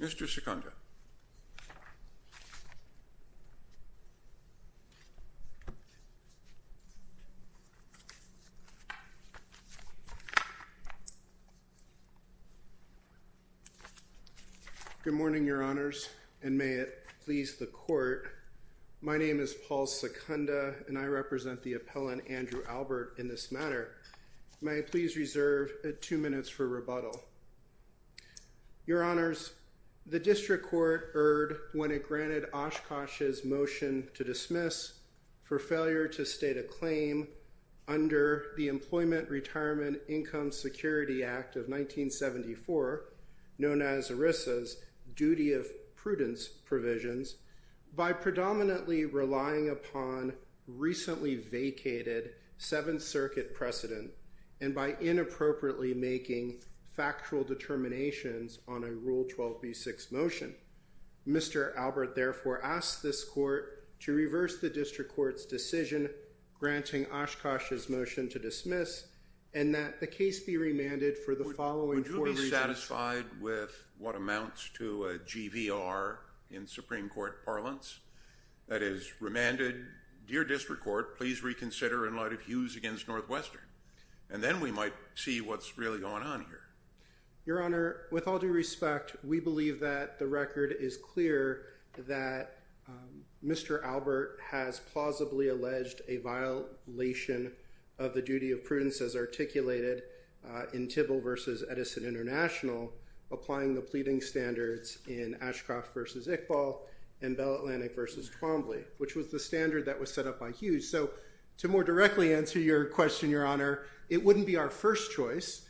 Mr. Sikandar Good morning, Your Honors, and may it please the Court. My name is Paul Sikandar, and I represent the appellant Andrew Albert in this matter. May I please reserve two minutes for rebuttal? Your Honors, the District Court erred when it granted Oshkosh's motion to dismiss for failure to state a claim under the Employment Retirement Income Security Act of 1974, known as ERISA's duty of prudence provisions, by predominantly relying upon recently vacated Seventh Circuit precedent, and by inappropriately making factual determinations on a Rule 12b6 motion. Mr. Albert therefore asks this Court to reverse the District Court's decision granting Oshkosh's motion to dismiss, and that the case be remanded for the following four reasons. Would you be satisfied with what amounts to a GVR in Supreme Court parlance? That is, remanded. Would your District Court please reconsider in light of Hughes v. Northwestern? And then we might see what's really going on here. Your Honor, with all due respect, we believe that the record is clear that Mr. Albert has plausibly alleged a violation of the duty of prudence as articulated in Tybill v. Edison International, applying the pleading standards in Ashcroft v. Iqbal and Bell Atlantic v. Hughes. So, to more directly answer your question, Your Honor, it wouldn't be our first choice.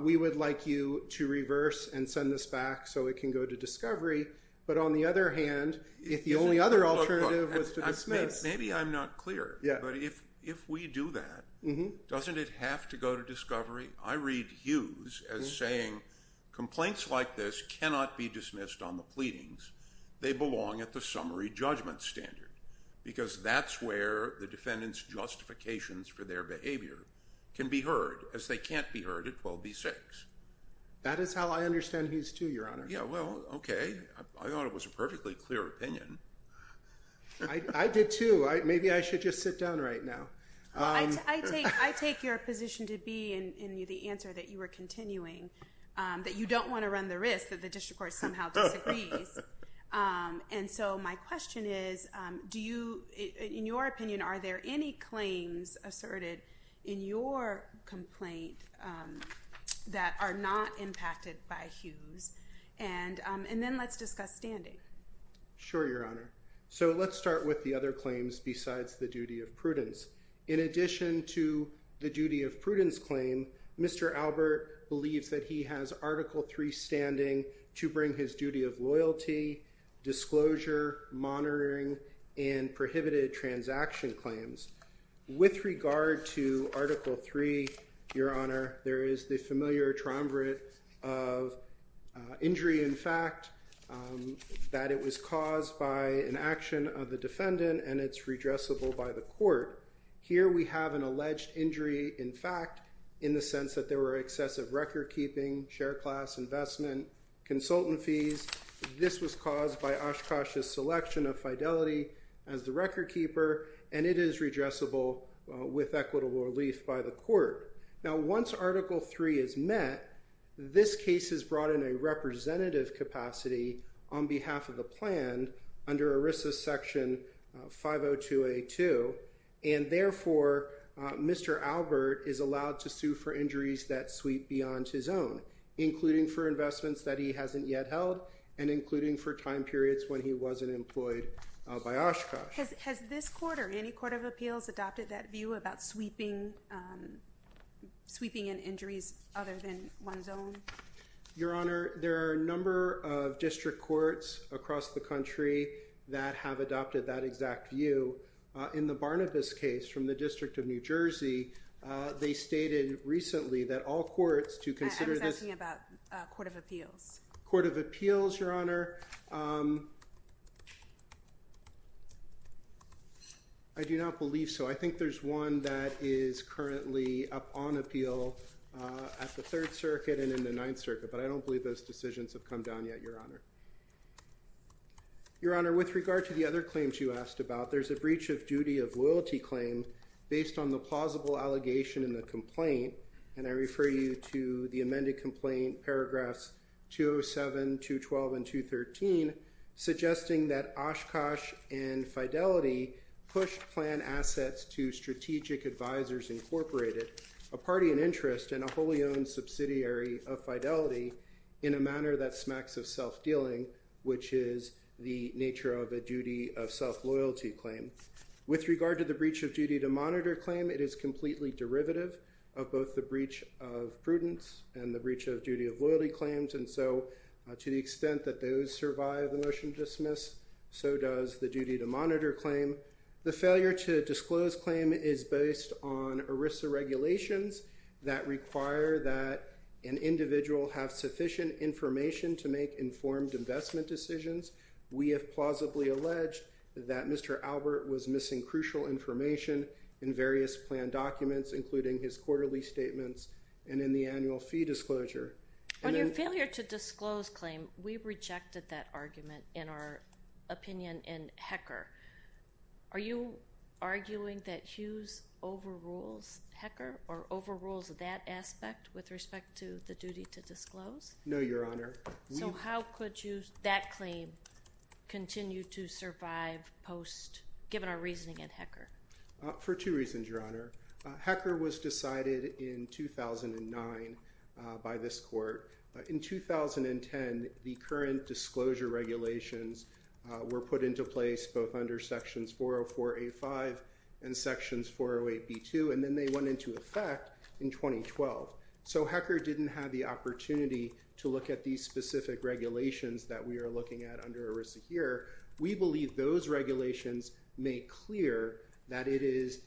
We would like you to reverse and send this back so it can go to discovery. But on the other hand, if the only other alternative was to dismiss— Maybe I'm not clear, but if we do that, doesn't it have to go to discovery? I read Hughes as saying, complaints like this cannot be dismissed on the pleadings. They belong at the summary judgment standard, because that's where the defendant's justifications for their behavior can be heard, as they can't be heard at 12b-6. That is how I understand Hughes too, Your Honor. Yeah, well, okay. I thought it was a perfectly clear opinion. I did too. Maybe I should just sit down right now. I take your position to be, in the answer that you were continuing, that you don't want to run the risk that the district court somehow disagrees. And so, my question is, do you, in your opinion, are there any claims asserted in your complaint that are not impacted by Hughes? And then, let's discuss standing. Sure, Your Honor. So, let's start with the other claims besides the duty of prudence. In addition to the duty of prudence claim, Mr. Albert believes that he has Article III standing to bring his duty of loyalty, disclosure, monitoring, and prohibited transaction claims. With regard to Article III, Your Honor, there is the familiar triumvirate of injury in fact, that it was caused by an action of the defendant and it's redressable by the court. Here we have an alleged injury in fact, in the sense that there were excessive record keeping, share class investment, consultant fees. This was caused by Oshkosh's selection of Fidelity as the record keeper, and it is redressable with equitable relief by the court. Now, once Article III is met, this case is brought in a representative capacity on behalf of the plan under ERISA Section 502A2, and therefore, Mr. Albert is allowed to sue for injuries that sweep beyond his own, including for investments that he hasn't yet held, and including for time periods when he wasn't employed by Oshkosh. Has this court or any court of appeals adopted that view about sweeping, sweeping in injuries other than one's own? Your Honor, there are a number of district courts across the country that have adopted that exact view. In the Barnabas case from the District of New Jersey, they stated recently that all courts to consider this. I was asking about court of appeals. Court of appeals, Your Honor, I do not believe so. I think there's one that is currently up on appeal at the Third Circuit and in the Ninth Circuit, but I don't believe those decisions have come down yet, Your Honor. Your Honor, with regard to the other claims you asked about, there's a breach of duty of loyalty claim based on the plausible allegation in the complaint, and I refer you to the amended complaint paragraphs 207, 212, and 213, suggesting that Oshkosh and Fidelity pushed plan assets to Strategic Advisors Incorporated, a party in interest and a wholly owned subsidiary of Fidelity, in a manner that smacks of self-dealing, which is the nature of a duty of self-loyalty claim. With regard to the breach of duty to monitor claim, it is completely derivative of both the breach of prudence and the breach of duty of loyalty claims, and so to the extent that those survive the motion to dismiss, so does the duty to monitor claim. The failure to disclose claim is based on ERISA regulations that require that an individual have sufficient information to make informed investment decisions. We have plausibly alleged that Mr. Albert was missing crucial information in various plan documents, including his quarterly statements and in the annual fee disclosure. On your failure to disclose claim, we rejected that argument in our opinion in HECR. Are you arguing that Hughes overrules HECR or overrules that aspect with respect to the duty to disclose? No, Your Honor. So how could that claim continue to survive given our reasoning in HECR? For two reasons, Your Honor. HECR was decided in 2009 by this Court. In 2010, the current disclosure regulations were put into place both under sections 404A5 and sections 408B2, and then they went into effect in 2012. So HECR didn't have the opportunity to look at these specific regulations that we are looking at under ERISA here. We believe those regulations make clear that it is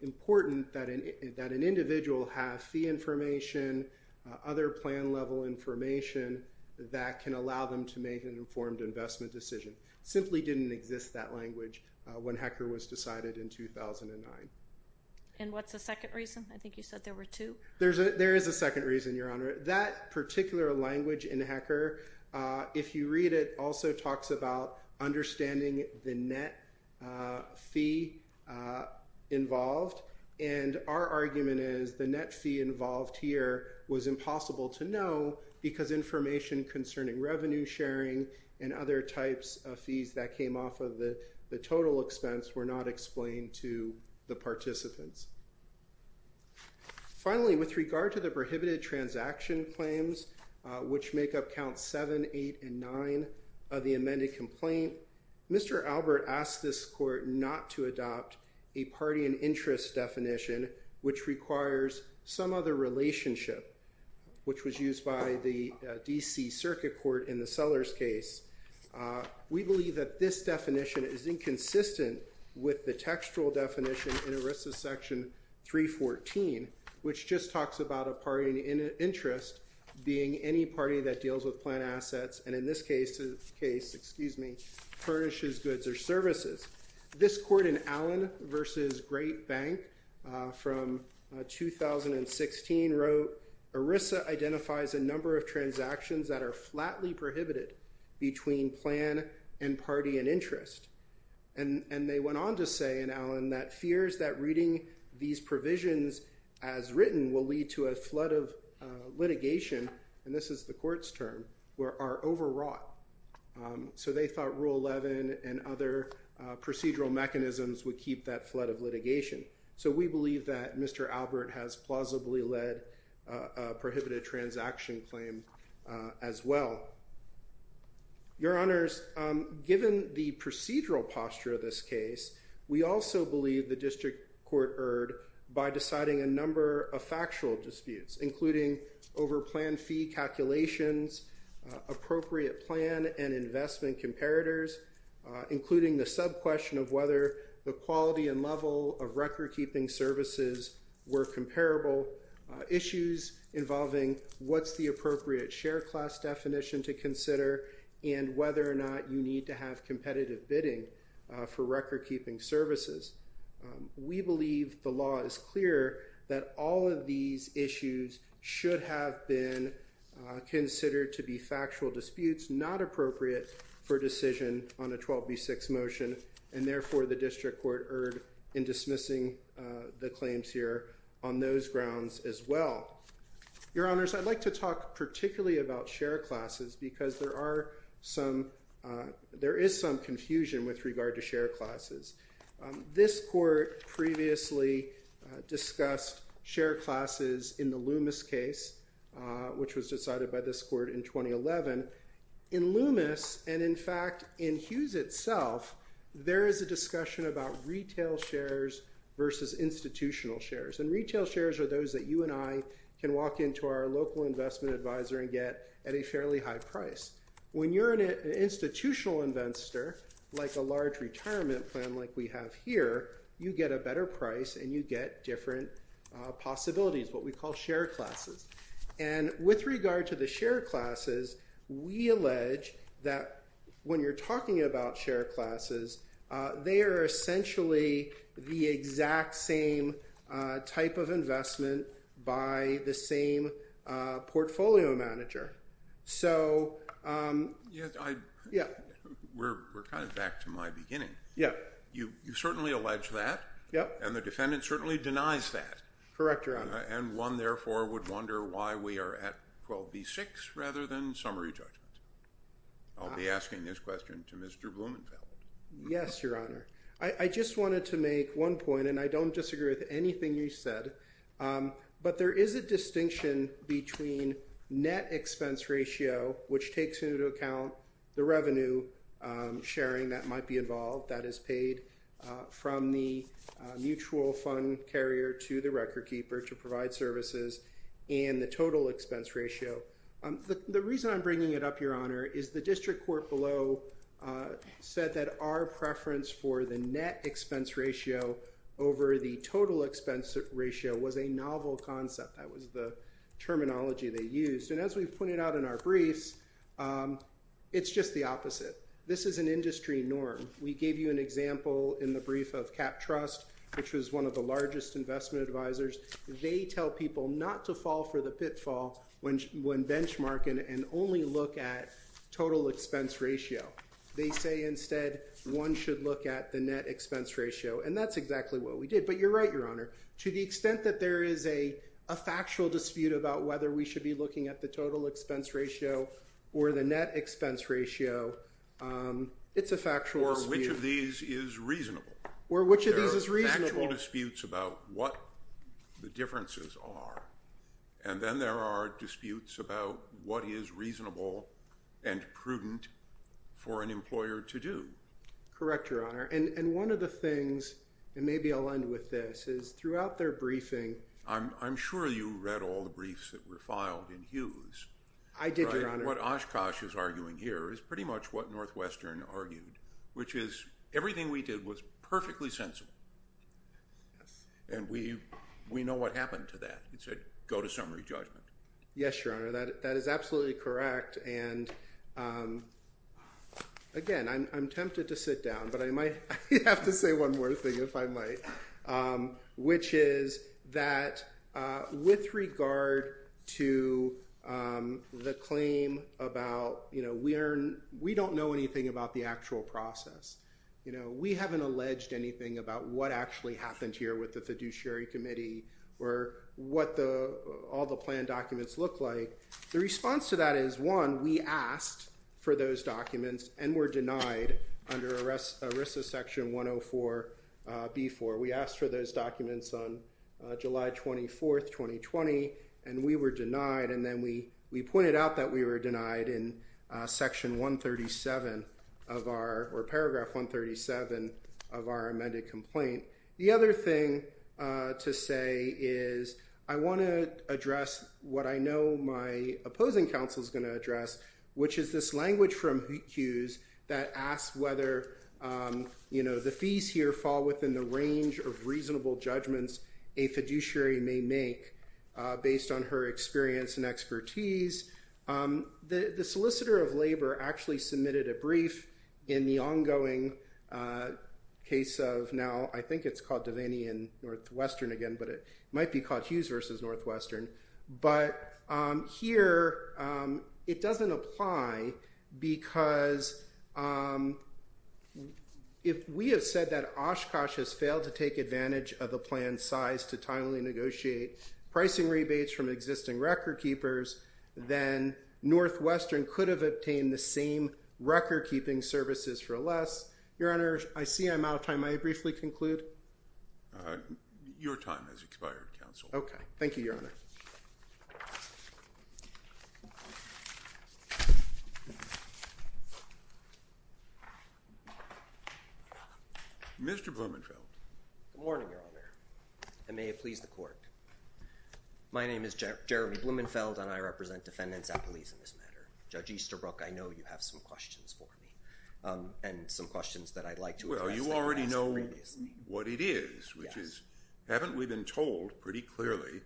important that an individual have fee information, other plan-level information that can allow them to make an informed investment decision. It simply didn't exist, that language, when HECR was decided in 2009. And what's the second reason? I think you said there were two. There is a second reason, Your Honor. That particular language in HECR, if you read it, also talks about understanding the net fee involved, and our argument is the net fee involved here was impossible to know because information concerning revenue sharing and other types of fees that came off of the total Finally, with regard to the prohibited transaction claims, which make up Counts 7, 8, and 9 of the amended complaint, Mr. Albert asked this Court not to adopt a party and interest definition, which requires some other relationship, which was used by the D.C. Circuit Court in the Sellers case. We believe that this definition is inconsistent with the textual definition in ERISA Section 314, which just talks about a party and interest being any party that deals with planned assets and, in this case, furnishes goods or services. This Court in Allen v. Great Bank from 2016 wrote, ERISA identifies a number of transactions that are flatly prohibited between plan and party and interest. And they went on to say in Allen that fears that reading these provisions as written will lead to a flood of litigation, and this is the Court's term, are overwrought. So they thought Rule 11 and other procedural mechanisms would keep that flood of litigation. So we believe that Mr. Albert has plausibly led a prohibited transaction claim as well. Your Honors, given the procedural posture of this case, we also believe the District Court erred by deciding a number of factual disputes, including over plan fee calculations, appropriate plan and investment comparators, including the sub-question of whether the recordkeeping services were comparable, issues involving what's the appropriate share class definition to consider, and whether or not you need to have competitive bidding for recordkeeping services. We believe the law is clear that all of these issues should have been considered to be factual disputes not appropriate for decision on a 12b6 motion, and therefore the District Court erred in dismissing the claims here on those grounds as well. Your Honors, I'd like to talk particularly about share classes because there is some confusion with regard to share classes. This Court previously discussed share classes in the Loomis case, which was decided by this Court in 2011. In Loomis, and in fact in Hughes itself, there is a discussion about retail shares versus institutional shares, and retail shares are those that you and I can walk into our local investment advisor and get at a fairly high price. When you're an institutional investor, like a large retirement plan like we have here, you get a better price and you get different possibilities, what we call share classes. And with regard to the share classes, we allege that when you're talking about share classes, they are essentially the exact same type of investment by the same portfolio manager. So yeah, we're kind of back to my beginning. You certainly allege that, and the defendant certainly denies that, and one therefore would wonder why we are at 12B6 rather than summary judgment. I'll be asking this question to Mr. Blumenfeld. Yes, Your Honor. I just wanted to make one point, and I don't disagree with anything you said, but there is a distinction between net expense ratio, which takes into account the revenue sharing that might be involved, that is paid from the mutual fund carrier to the record keeper to provide services, and the total expense ratio. The reason I'm bringing it up, Your Honor, is the district court below said that our preference for the net expense ratio over the total expense ratio was a novel concept. That was the terminology they used. And as we've pointed out in our briefs, it's just the opposite. This is an industry norm. We gave you an example in the brief of CAP Trust, which was one of the largest investment advisors. They tell people not to fall for the pitfall when benchmarking and only look at total expense ratio. They say instead one should look at the net expense ratio, and that's exactly what we did. But you're right, Your Honor. To the extent that there is a factual dispute about whether we should be looking at the total expense ratio or the net expense ratio, it's a factual dispute. Or which of these is reasonable? Or which of these is reasonable? There are factual disputes about what the differences are, and then there are disputes about what is reasonable and prudent for an employer to do. Correct, Your Honor. And one of the things, and maybe I'll end with this, is throughout their briefing— I'm sure you read all the briefs that were filed in Hughes. I did, Your Honor. What Oshkosh is arguing here is pretty much what Northwestern argued, which is everything we did was perfectly sensible, and we know what happened to that. It said, go to summary judgment. Yes, Your Honor, that is absolutely correct, and again, I'm tempted to sit down, but I might have to say one more thing if I might, which is that with regard to the claim about we don't know anything about the actual process. We haven't alleged anything about what actually happened here with the fiduciary committee or what all the plan documents look like. The response to that is, one, we asked for those documents and were denied under ERISA Section 104B4. We asked for those documents on July 24, 2020, and we were denied, and then we pointed out that we were denied in Section 137 of our—or Paragraph 137 of our amended complaint. The other thing to say is I want to address what I know my opposing counsel is going to address, which is this language from Hughes that asks whether, you know, the fees here fall within the range of reasonable judgments a fiduciary may make based on her experience and expertise. The solicitor of labor actually submitted a brief in the ongoing case of now—I think it's called Devaney and Northwestern again, but it might be called Hughes v. Northwestern—but here it doesn't apply because if we have said that Oshkosh has failed to take advantage of the plan's size to timely negotiate pricing rebates from existing record keepers, then Northwestern could have obtained the same record-keeping services for less. Your Honor, I see I'm out of time. May I briefly conclude? Your time has expired, counsel. Okay. Thank you, Your Honor. Mr. Blumenfeld. Good morning, Your Honor. And may it please the Court. My name is Jeremy Blumenfeld and I represent defendants at police in this matter. Judge Easterbrook, I know you have some questions for me and some questions that I'd like to address. Well, you already know what it is, which is haven't we been told pretty clearly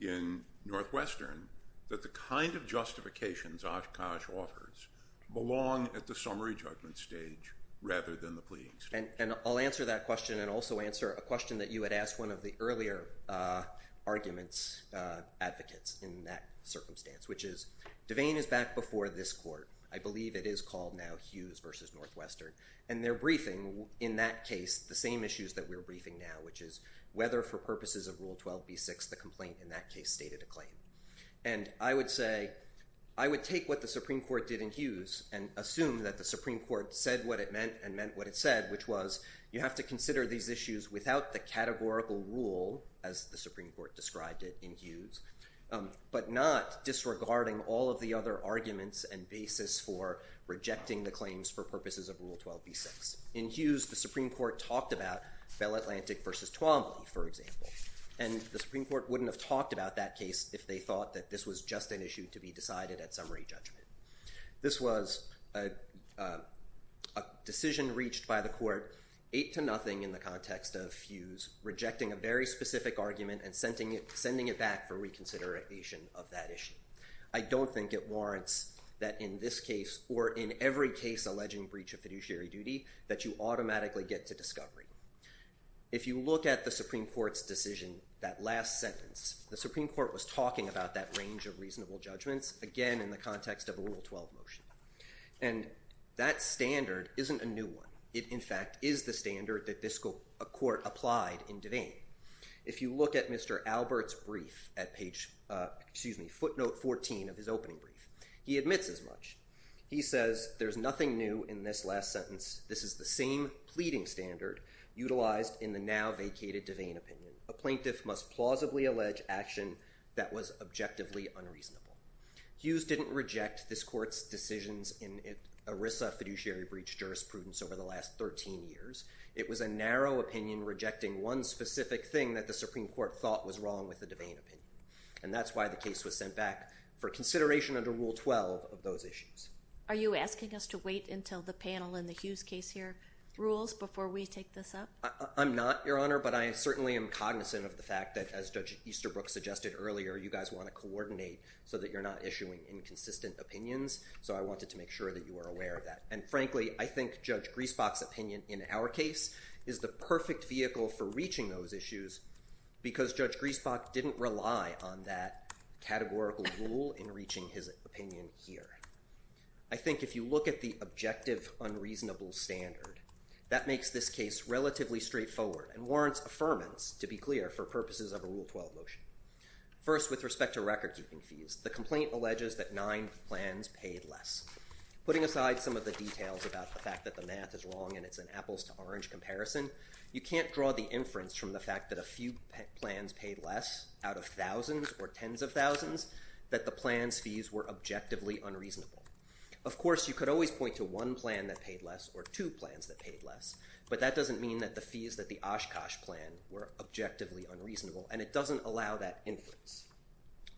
in Northwestern that the kind of justifications Oshkosh offers belong at the summary judgment stage rather than the pleading stage? And I'll answer that question and also answer a question that you had asked one of the earlier arguments, advocates in that circumstance, which is Devane is back before this Court. I believe it is called now Hughes v. Northwestern. And they're briefing in that case the same issues that we're briefing now, which is whether for purposes of Rule 12b-6, the complaint in that case stated a claim. And I would say I would take what the Supreme Court did in Hughes and assume that the Supreme Court said what it meant and meant what it said, which was you have to consider these issues without the categorical rule, as the Supreme Court described it in Hughes, but not disregarding all of the other arguments and basis for rejecting the claims for purposes of Rule 12b-6. In Hughes, the Supreme Court talked about Bell Atlantic v. Twombly, for example. And the Supreme Court wouldn't have talked about that case if they thought that this was just an issue to be decided at summary judgment. This was a decision reached by the Court, 8-0 in the context of Hughes, rejecting a very specific argument and sending it back for reconsideration of that issue. I don't think it warrants that in this case or in every case alleging breach of fiduciary duty that you automatically get to discovery. If you look at the Supreme Court's decision, that last sentence, the Supreme Court was in favor of the Rule 12 motion. And that standard isn't a new one. It in fact is the standard that this Court applied in Devane. If you look at Mr. Albert's brief at footnote 14 of his opening brief, he admits as much. He says, there's nothing new in this last sentence. This is the same pleading standard utilized in the now vacated Devane opinion. A plaintiff must plausibly allege action that was objectively unreasonable. Hughes didn't reject this Court's decisions in ERISA fiduciary breach jurisprudence over the last 13 years. It was a narrow opinion rejecting one specific thing that the Supreme Court thought was wrong with the Devane opinion. And that's why the case was sent back for consideration under Rule 12 of those issues. Are you asking us to wait until the panel in the Hughes case here rules before we take this up? I'm not, Your Honor, but I certainly am cognizant of the fact that as Judge Easterbrook suggested earlier, you guys want to coordinate so that you're not issuing inconsistent opinions. So I wanted to make sure that you were aware of that. And frankly, I think Judge Griesbach's opinion in our case is the perfect vehicle for reaching those issues because Judge Griesbach didn't rely on that categorical rule in reaching his opinion here. I think if you look at the objective unreasonable standard, that makes this case relatively straightforward and warrants affirmance, to be clear, for purposes of a Rule 12 motion. First with respect to record keeping fees, the complaint alleges that nine plans paid less. Putting aside some of the details about the fact that the math is wrong and it's an apples to orange comparison, you can't draw the inference from the fact that a few plans paid less out of thousands or tens of thousands that the plan's fees were objectively unreasonable. Of course, you could always point to one plan that paid less or two plans that paid less, but that doesn't mean that the fees that the Oshkosh plan were objectively unreasonable and it doesn't allow that inference.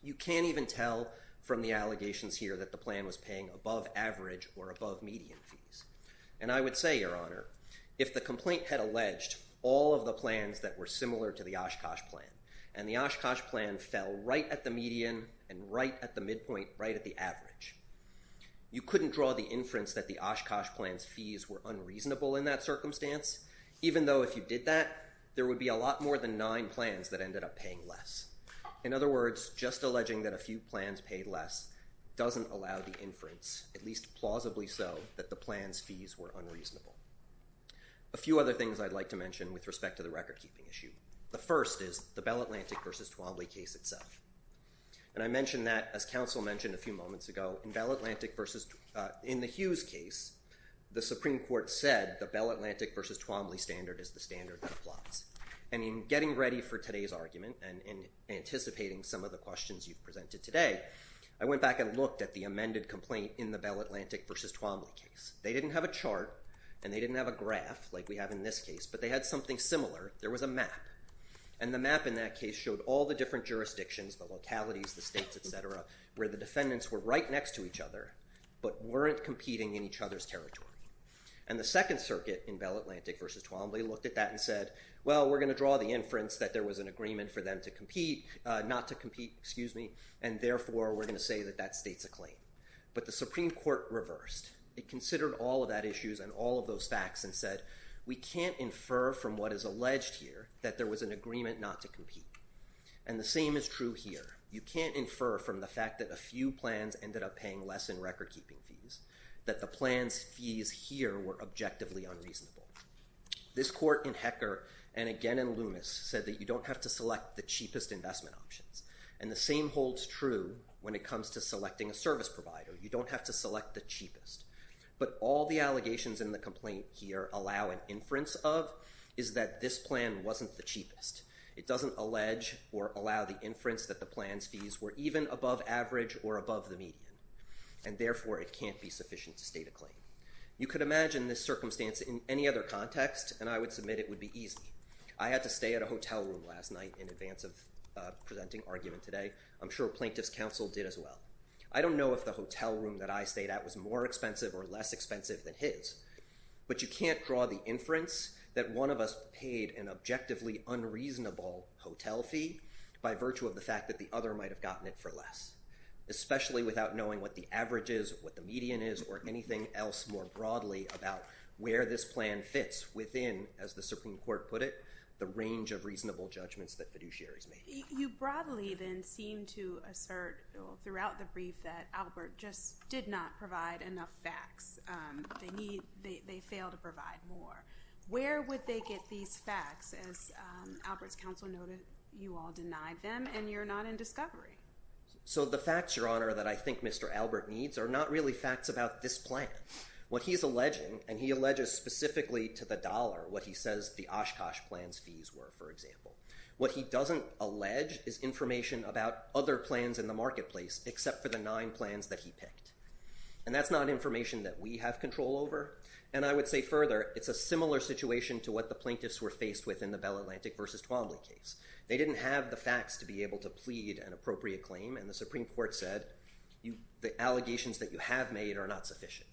You can't even tell from the allegations here that the plan was paying above average or above median fees. And I would say, Your Honor, if the complaint had alleged all of the plans that were similar to the Oshkosh plan and the Oshkosh plan fell right at the median and right at the midpoint, right at the average, you couldn't draw the inference that the Oshkosh plan's fees were reasonable in that circumstance, even though if you did that, there would be a lot more than nine plans that ended up paying less. In other words, just alleging that a few plans paid less doesn't allow the inference, at least plausibly so, that the plan's fees were unreasonable. A few other things I'd like to mention with respect to the recordkeeping issue. The first is the Bell Atlantic versus Twombly case itself. And I mentioned that, as counsel mentioned a few moments ago, in Bell Atlantic versus in the Hughes case, the Supreme Court said the Bell Atlantic versus Twombly standard is the standard that applies. And in getting ready for today's argument and anticipating some of the questions you've presented today, I went back and looked at the amended complaint in the Bell Atlantic versus Twombly case. They didn't have a chart and they didn't have a graph like we have in this case, but they had something similar. There was a map. And the map in that case showed all the different jurisdictions, the localities, the states, competing with each other, but weren't competing in each other's territory. And the Second Circuit in Bell Atlantic versus Twombly looked at that and said, well, we're going to draw the inference that there was an agreement for them to compete, not to compete, excuse me, and therefore we're going to say that that state's a claim. But the Supreme Court reversed. It considered all of that issues and all of those facts and said, we can't infer from what is alleged here that there was an agreement not to compete. And the same is true here. You can't infer from the fact that a few plans ended up paying less in recordkeeping fees that the plan's fees here were objectively unreasonable. This court in Hecker and again in Loomis said that you don't have to select the cheapest investment options. And the same holds true when it comes to selecting a service provider. You don't have to select the cheapest. But all the allegations in the complaint here allow an inference of is that this plan wasn't the cheapest. It doesn't allege or allow the inference that the plan's fees were even above average or above the median and therefore it can't be sufficient to state a claim. You could imagine this circumstance in any other context and I would submit it would be easy. I had to stay at a hotel room last night in advance of presenting argument today. I'm sure plaintiff's counsel did as well. I don't know if the hotel room that I stayed at was more expensive or less expensive than But you can't draw the inference that one of us paid an objectively unreasonable hotel fee by virtue of the fact that the other might have gotten it for less, especially without knowing what the average is, what the median is, or anything else more broadly about where this plan fits within, as the Supreme Court put it, the range of reasonable judgments that fiduciaries make. You broadly then seem to assert throughout the brief that Albert just did not provide enough facts. They need, they fail to provide more. Where would they get these facts as Albert's counsel noted you all denied them and you're not in discovery. So the facts, Your Honor, that I think Mr. Albert needs are not really facts about this plan. What he's alleging, and he alleges specifically to the dollar what he says the Oshkosh plan's fees were, for example. What he doesn't allege is information about other plans in the marketplace except for the nine plans that he picked. And that's not information that we have control over. And I would say further, it's a similar situation to what the plaintiffs were faced with in the Bell Atlantic versus Twombly case. They didn't have the facts to be able to plead an appropriate claim and the Supreme Court said the allegations that you have made are not sufficient.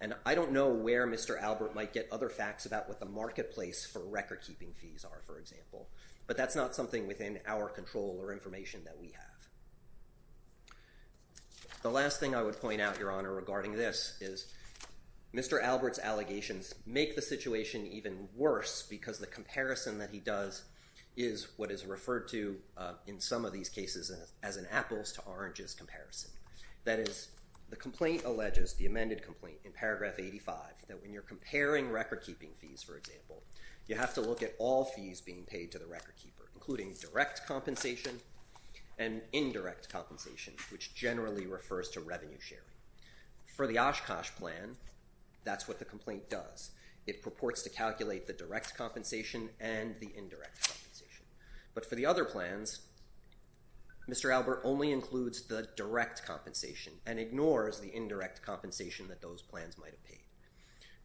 And I don't know where Mr. Albert might get other facts about what the marketplace for recordkeeping fees are, for example. But that's not something within our control or information that we have. The last thing I would point out, Your Honor, regarding this is Mr. Albert's allegations make the situation even worse because the comparison that he does is what is referred to in some of these cases as an apples to oranges comparison. That is, the complaint alleges, the amended complaint in paragraph 85, that when you're comparing recordkeeping fees, for example, you have to look at all fees being paid to indirect compensation, which generally refers to revenue sharing. For the Oshkosh plan, that's what the complaint does. It purports to calculate the direct compensation and the indirect compensation. But for the other plans, Mr. Albert only includes the direct compensation and ignores the indirect compensation that those plans might have paid.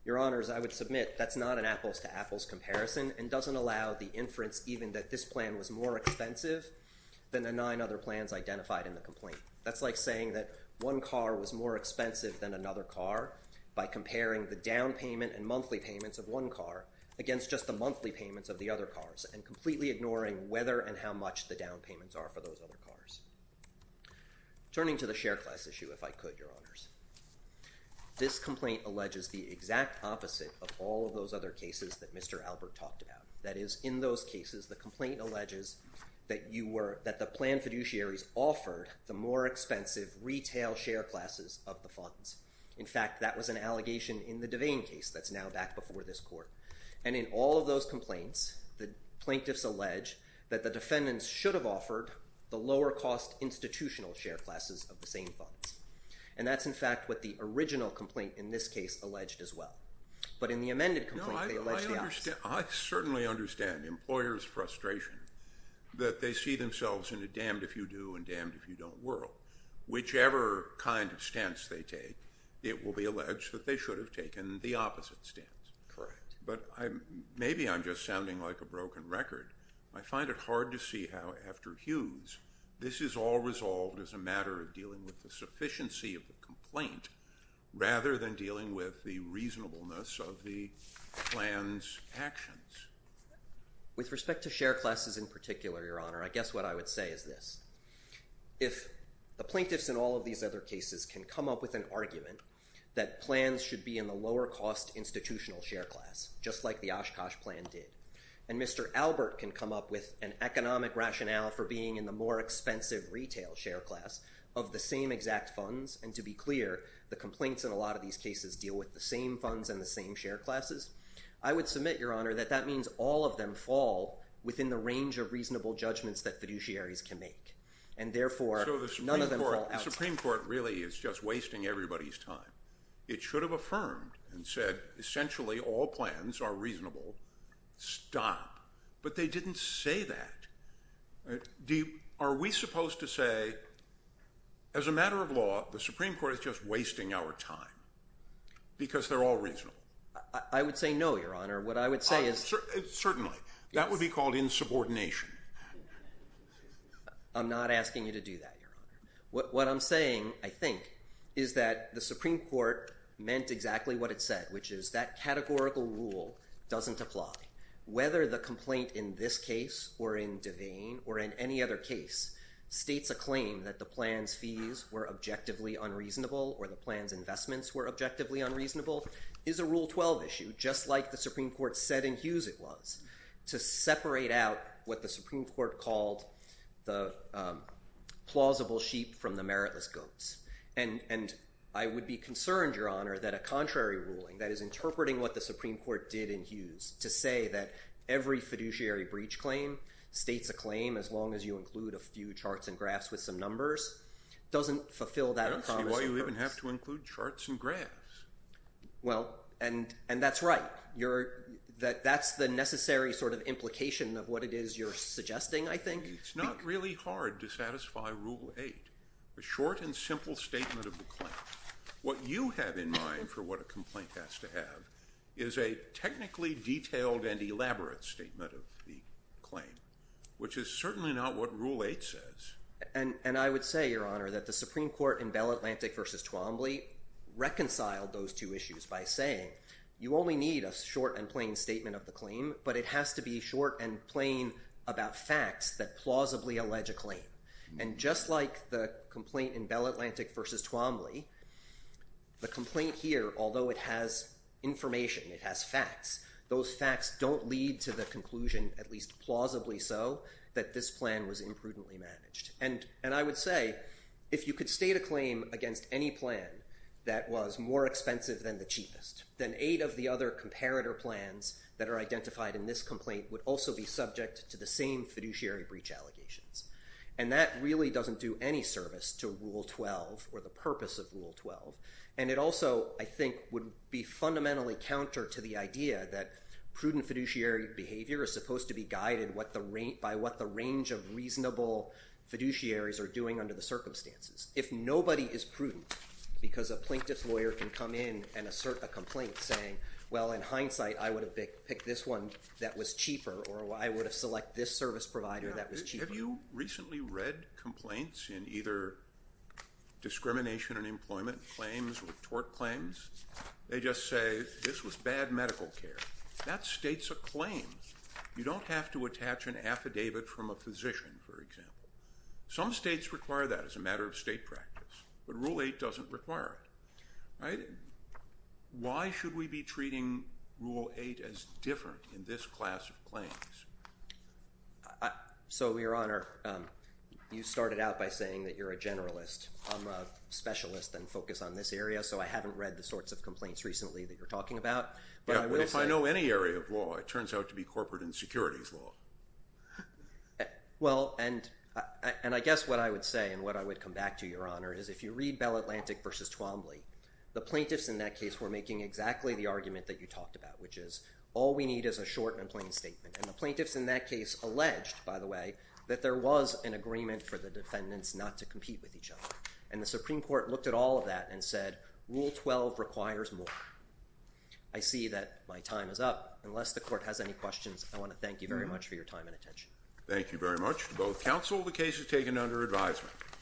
Your Honors, I would submit that's not an apples to apples comparison and doesn't allow the inference even that this plan was more expensive than the nine other plans identified in the complaint. That's like saying that one car was more expensive than another car by comparing the down payment and monthly payments of one car against just the monthly payments of the other cars and completely ignoring whether and how much the down payments are for those other cars. Turning to the share class issue, if I could, Your Honors, this complaint alleges the exact opposite of all of those other cases that Mr. Albert talked about. That is, in those cases, the complaint alleges that the plan fiduciaries offered the more expensive retail share classes of the funds. In fact, that was an allegation in the Devane case that's now back before this court. And in all of those complaints, the plaintiffs allege that the defendants should have offered the lower cost institutional share classes of the same funds. And that's, in fact, what the original complaint in this case alleged as well. But in the amended complaint, they allege the opposite. I certainly understand employers' frustration that they see themselves in a damned if you do and damned if you don't world. Whichever kind of stance they take, it will be alleged that they should have taken the opposite stance. Correct. But maybe I'm just sounding like a broken record. I find it hard to see how, after Hughes, this is all resolved as a matter of dealing with actions. With respect to share classes in particular, Your Honor, I guess what I would say is this. If the plaintiffs in all of these other cases can come up with an argument that plans should be in the lower cost institutional share class, just like the Oshkosh plan did, and Mr. Albert can come up with an economic rationale for being in the more expensive retail share class of the same exact funds, and to be clear, the complaints in a lot of these cases deal with the same funds and the same share classes, I would submit, Your Honor, that that means all of them fall within the range of reasonable judgments that fiduciaries can make. And therefore, none of them fall out. So the Supreme Court really is just wasting everybody's time. It should have affirmed and said, essentially, all plans are reasonable. Stop. But they didn't say that. Are we supposed to say, as a matter of law, the Supreme Court is just wasting our time because they're all reasonable? I would say no, Your Honor. What I would say is... Certainly. That would be called insubordination. I'm not asking you to do that, Your Honor. What I'm saying, I think, is that the Supreme Court meant exactly what it said, which is that categorical rule doesn't apply. Whether the complaint in this case or in Devane or in any other case states a claim that the plan's fees were objectively unreasonable or the plan's investments were objectively unreasonable is a Rule 12 issue, just like the Supreme Court said in Hughes it was, to separate out what the Supreme Court called the plausible sheep from the meritless goats. And I would be concerned, Your Honor, that a contrary ruling that is interpreting what the Supreme Court did in Hughes, to say that every fiduciary breach claim states a claim as long as you include a few charts and graphs with some numbers, doesn't fulfill that promise of hers. I don't see why you even have to include charts and graphs. Well, and that's right. That's the necessary sort of implication of what it is you're suggesting, I think. It's not really hard to satisfy Rule 8, a short and simple statement of the claim. What you have in mind for what a complaint has to have is a technically detailed and elaborate statement of the claim, which is certainly not what Rule 8 says. And I would say, Your Honor, that the Supreme Court in Bell Atlantic v. Twombly reconciled those two issues by saying, you only need a short and plain statement of the claim, but it has to be short and plain about facts that plausibly allege a claim. And just like the complaint in Bell Atlantic v. Twombly, the complaint here, although it has information, it has facts, those facts don't lead to the conclusion, at least plausibly so, that this plan was imprudently managed. And I would say, if you could state a claim against any plan that was more expensive than the cheapest, then eight of the other comparator plans that are identified in this complaint would also be subject to the same fiduciary breach allegations. And that really doesn't do any service to Rule 12 or the purpose of Rule 12. And it also, I think, would be fundamentally counter to the idea that prudent fiduciary behavior is supposed to be guided by what the range of reasonable fiduciaries are doing under the circumstances. If nobody is prudent, because a plaintiff's lawyer can come in and assert a complaint saying, well, in hindsight, I would have picked this one that was cheaper, or I would have selected this service provider that was cheaper. Have you recently read complaints in either discrimination in employment claims or tort claims? They just say, this was bad medical care. That states a claim. You don't have to attach an affidavit from a physician, for example. Some states require that as a matter of state practice, but Rule 8 doesn't require it, right? Why should we be treating Rule 8 as different in this class of claims? So Your Honor, you started out by saying that you're a generalist. I'm a specialist and focus on this area, so I haven't read the sorts of complaints recently that you're talking about. But I will say- Yeah, well, if I know any area of law, it turns out to be corporate and securities law. Well, and I guess what I would say, and what I would come back to, Your Honor, is if you read Bell Atlantic versus Twombly, the plaintiffs in that case were making exactly the argument that you talked about, which is, all we need is a short and plain statement. And the plaintiffs in that case alleged, by the way, that there was an agreement for the defendants not to compete with each other. And the Supreme Court looked at all of that and said, Rule 12 requires more. I see that my time is up. Unless the Court has any questions, I want to thank you very much for your time and attention. Thank you very much to both counsel. The case is taken under advisement.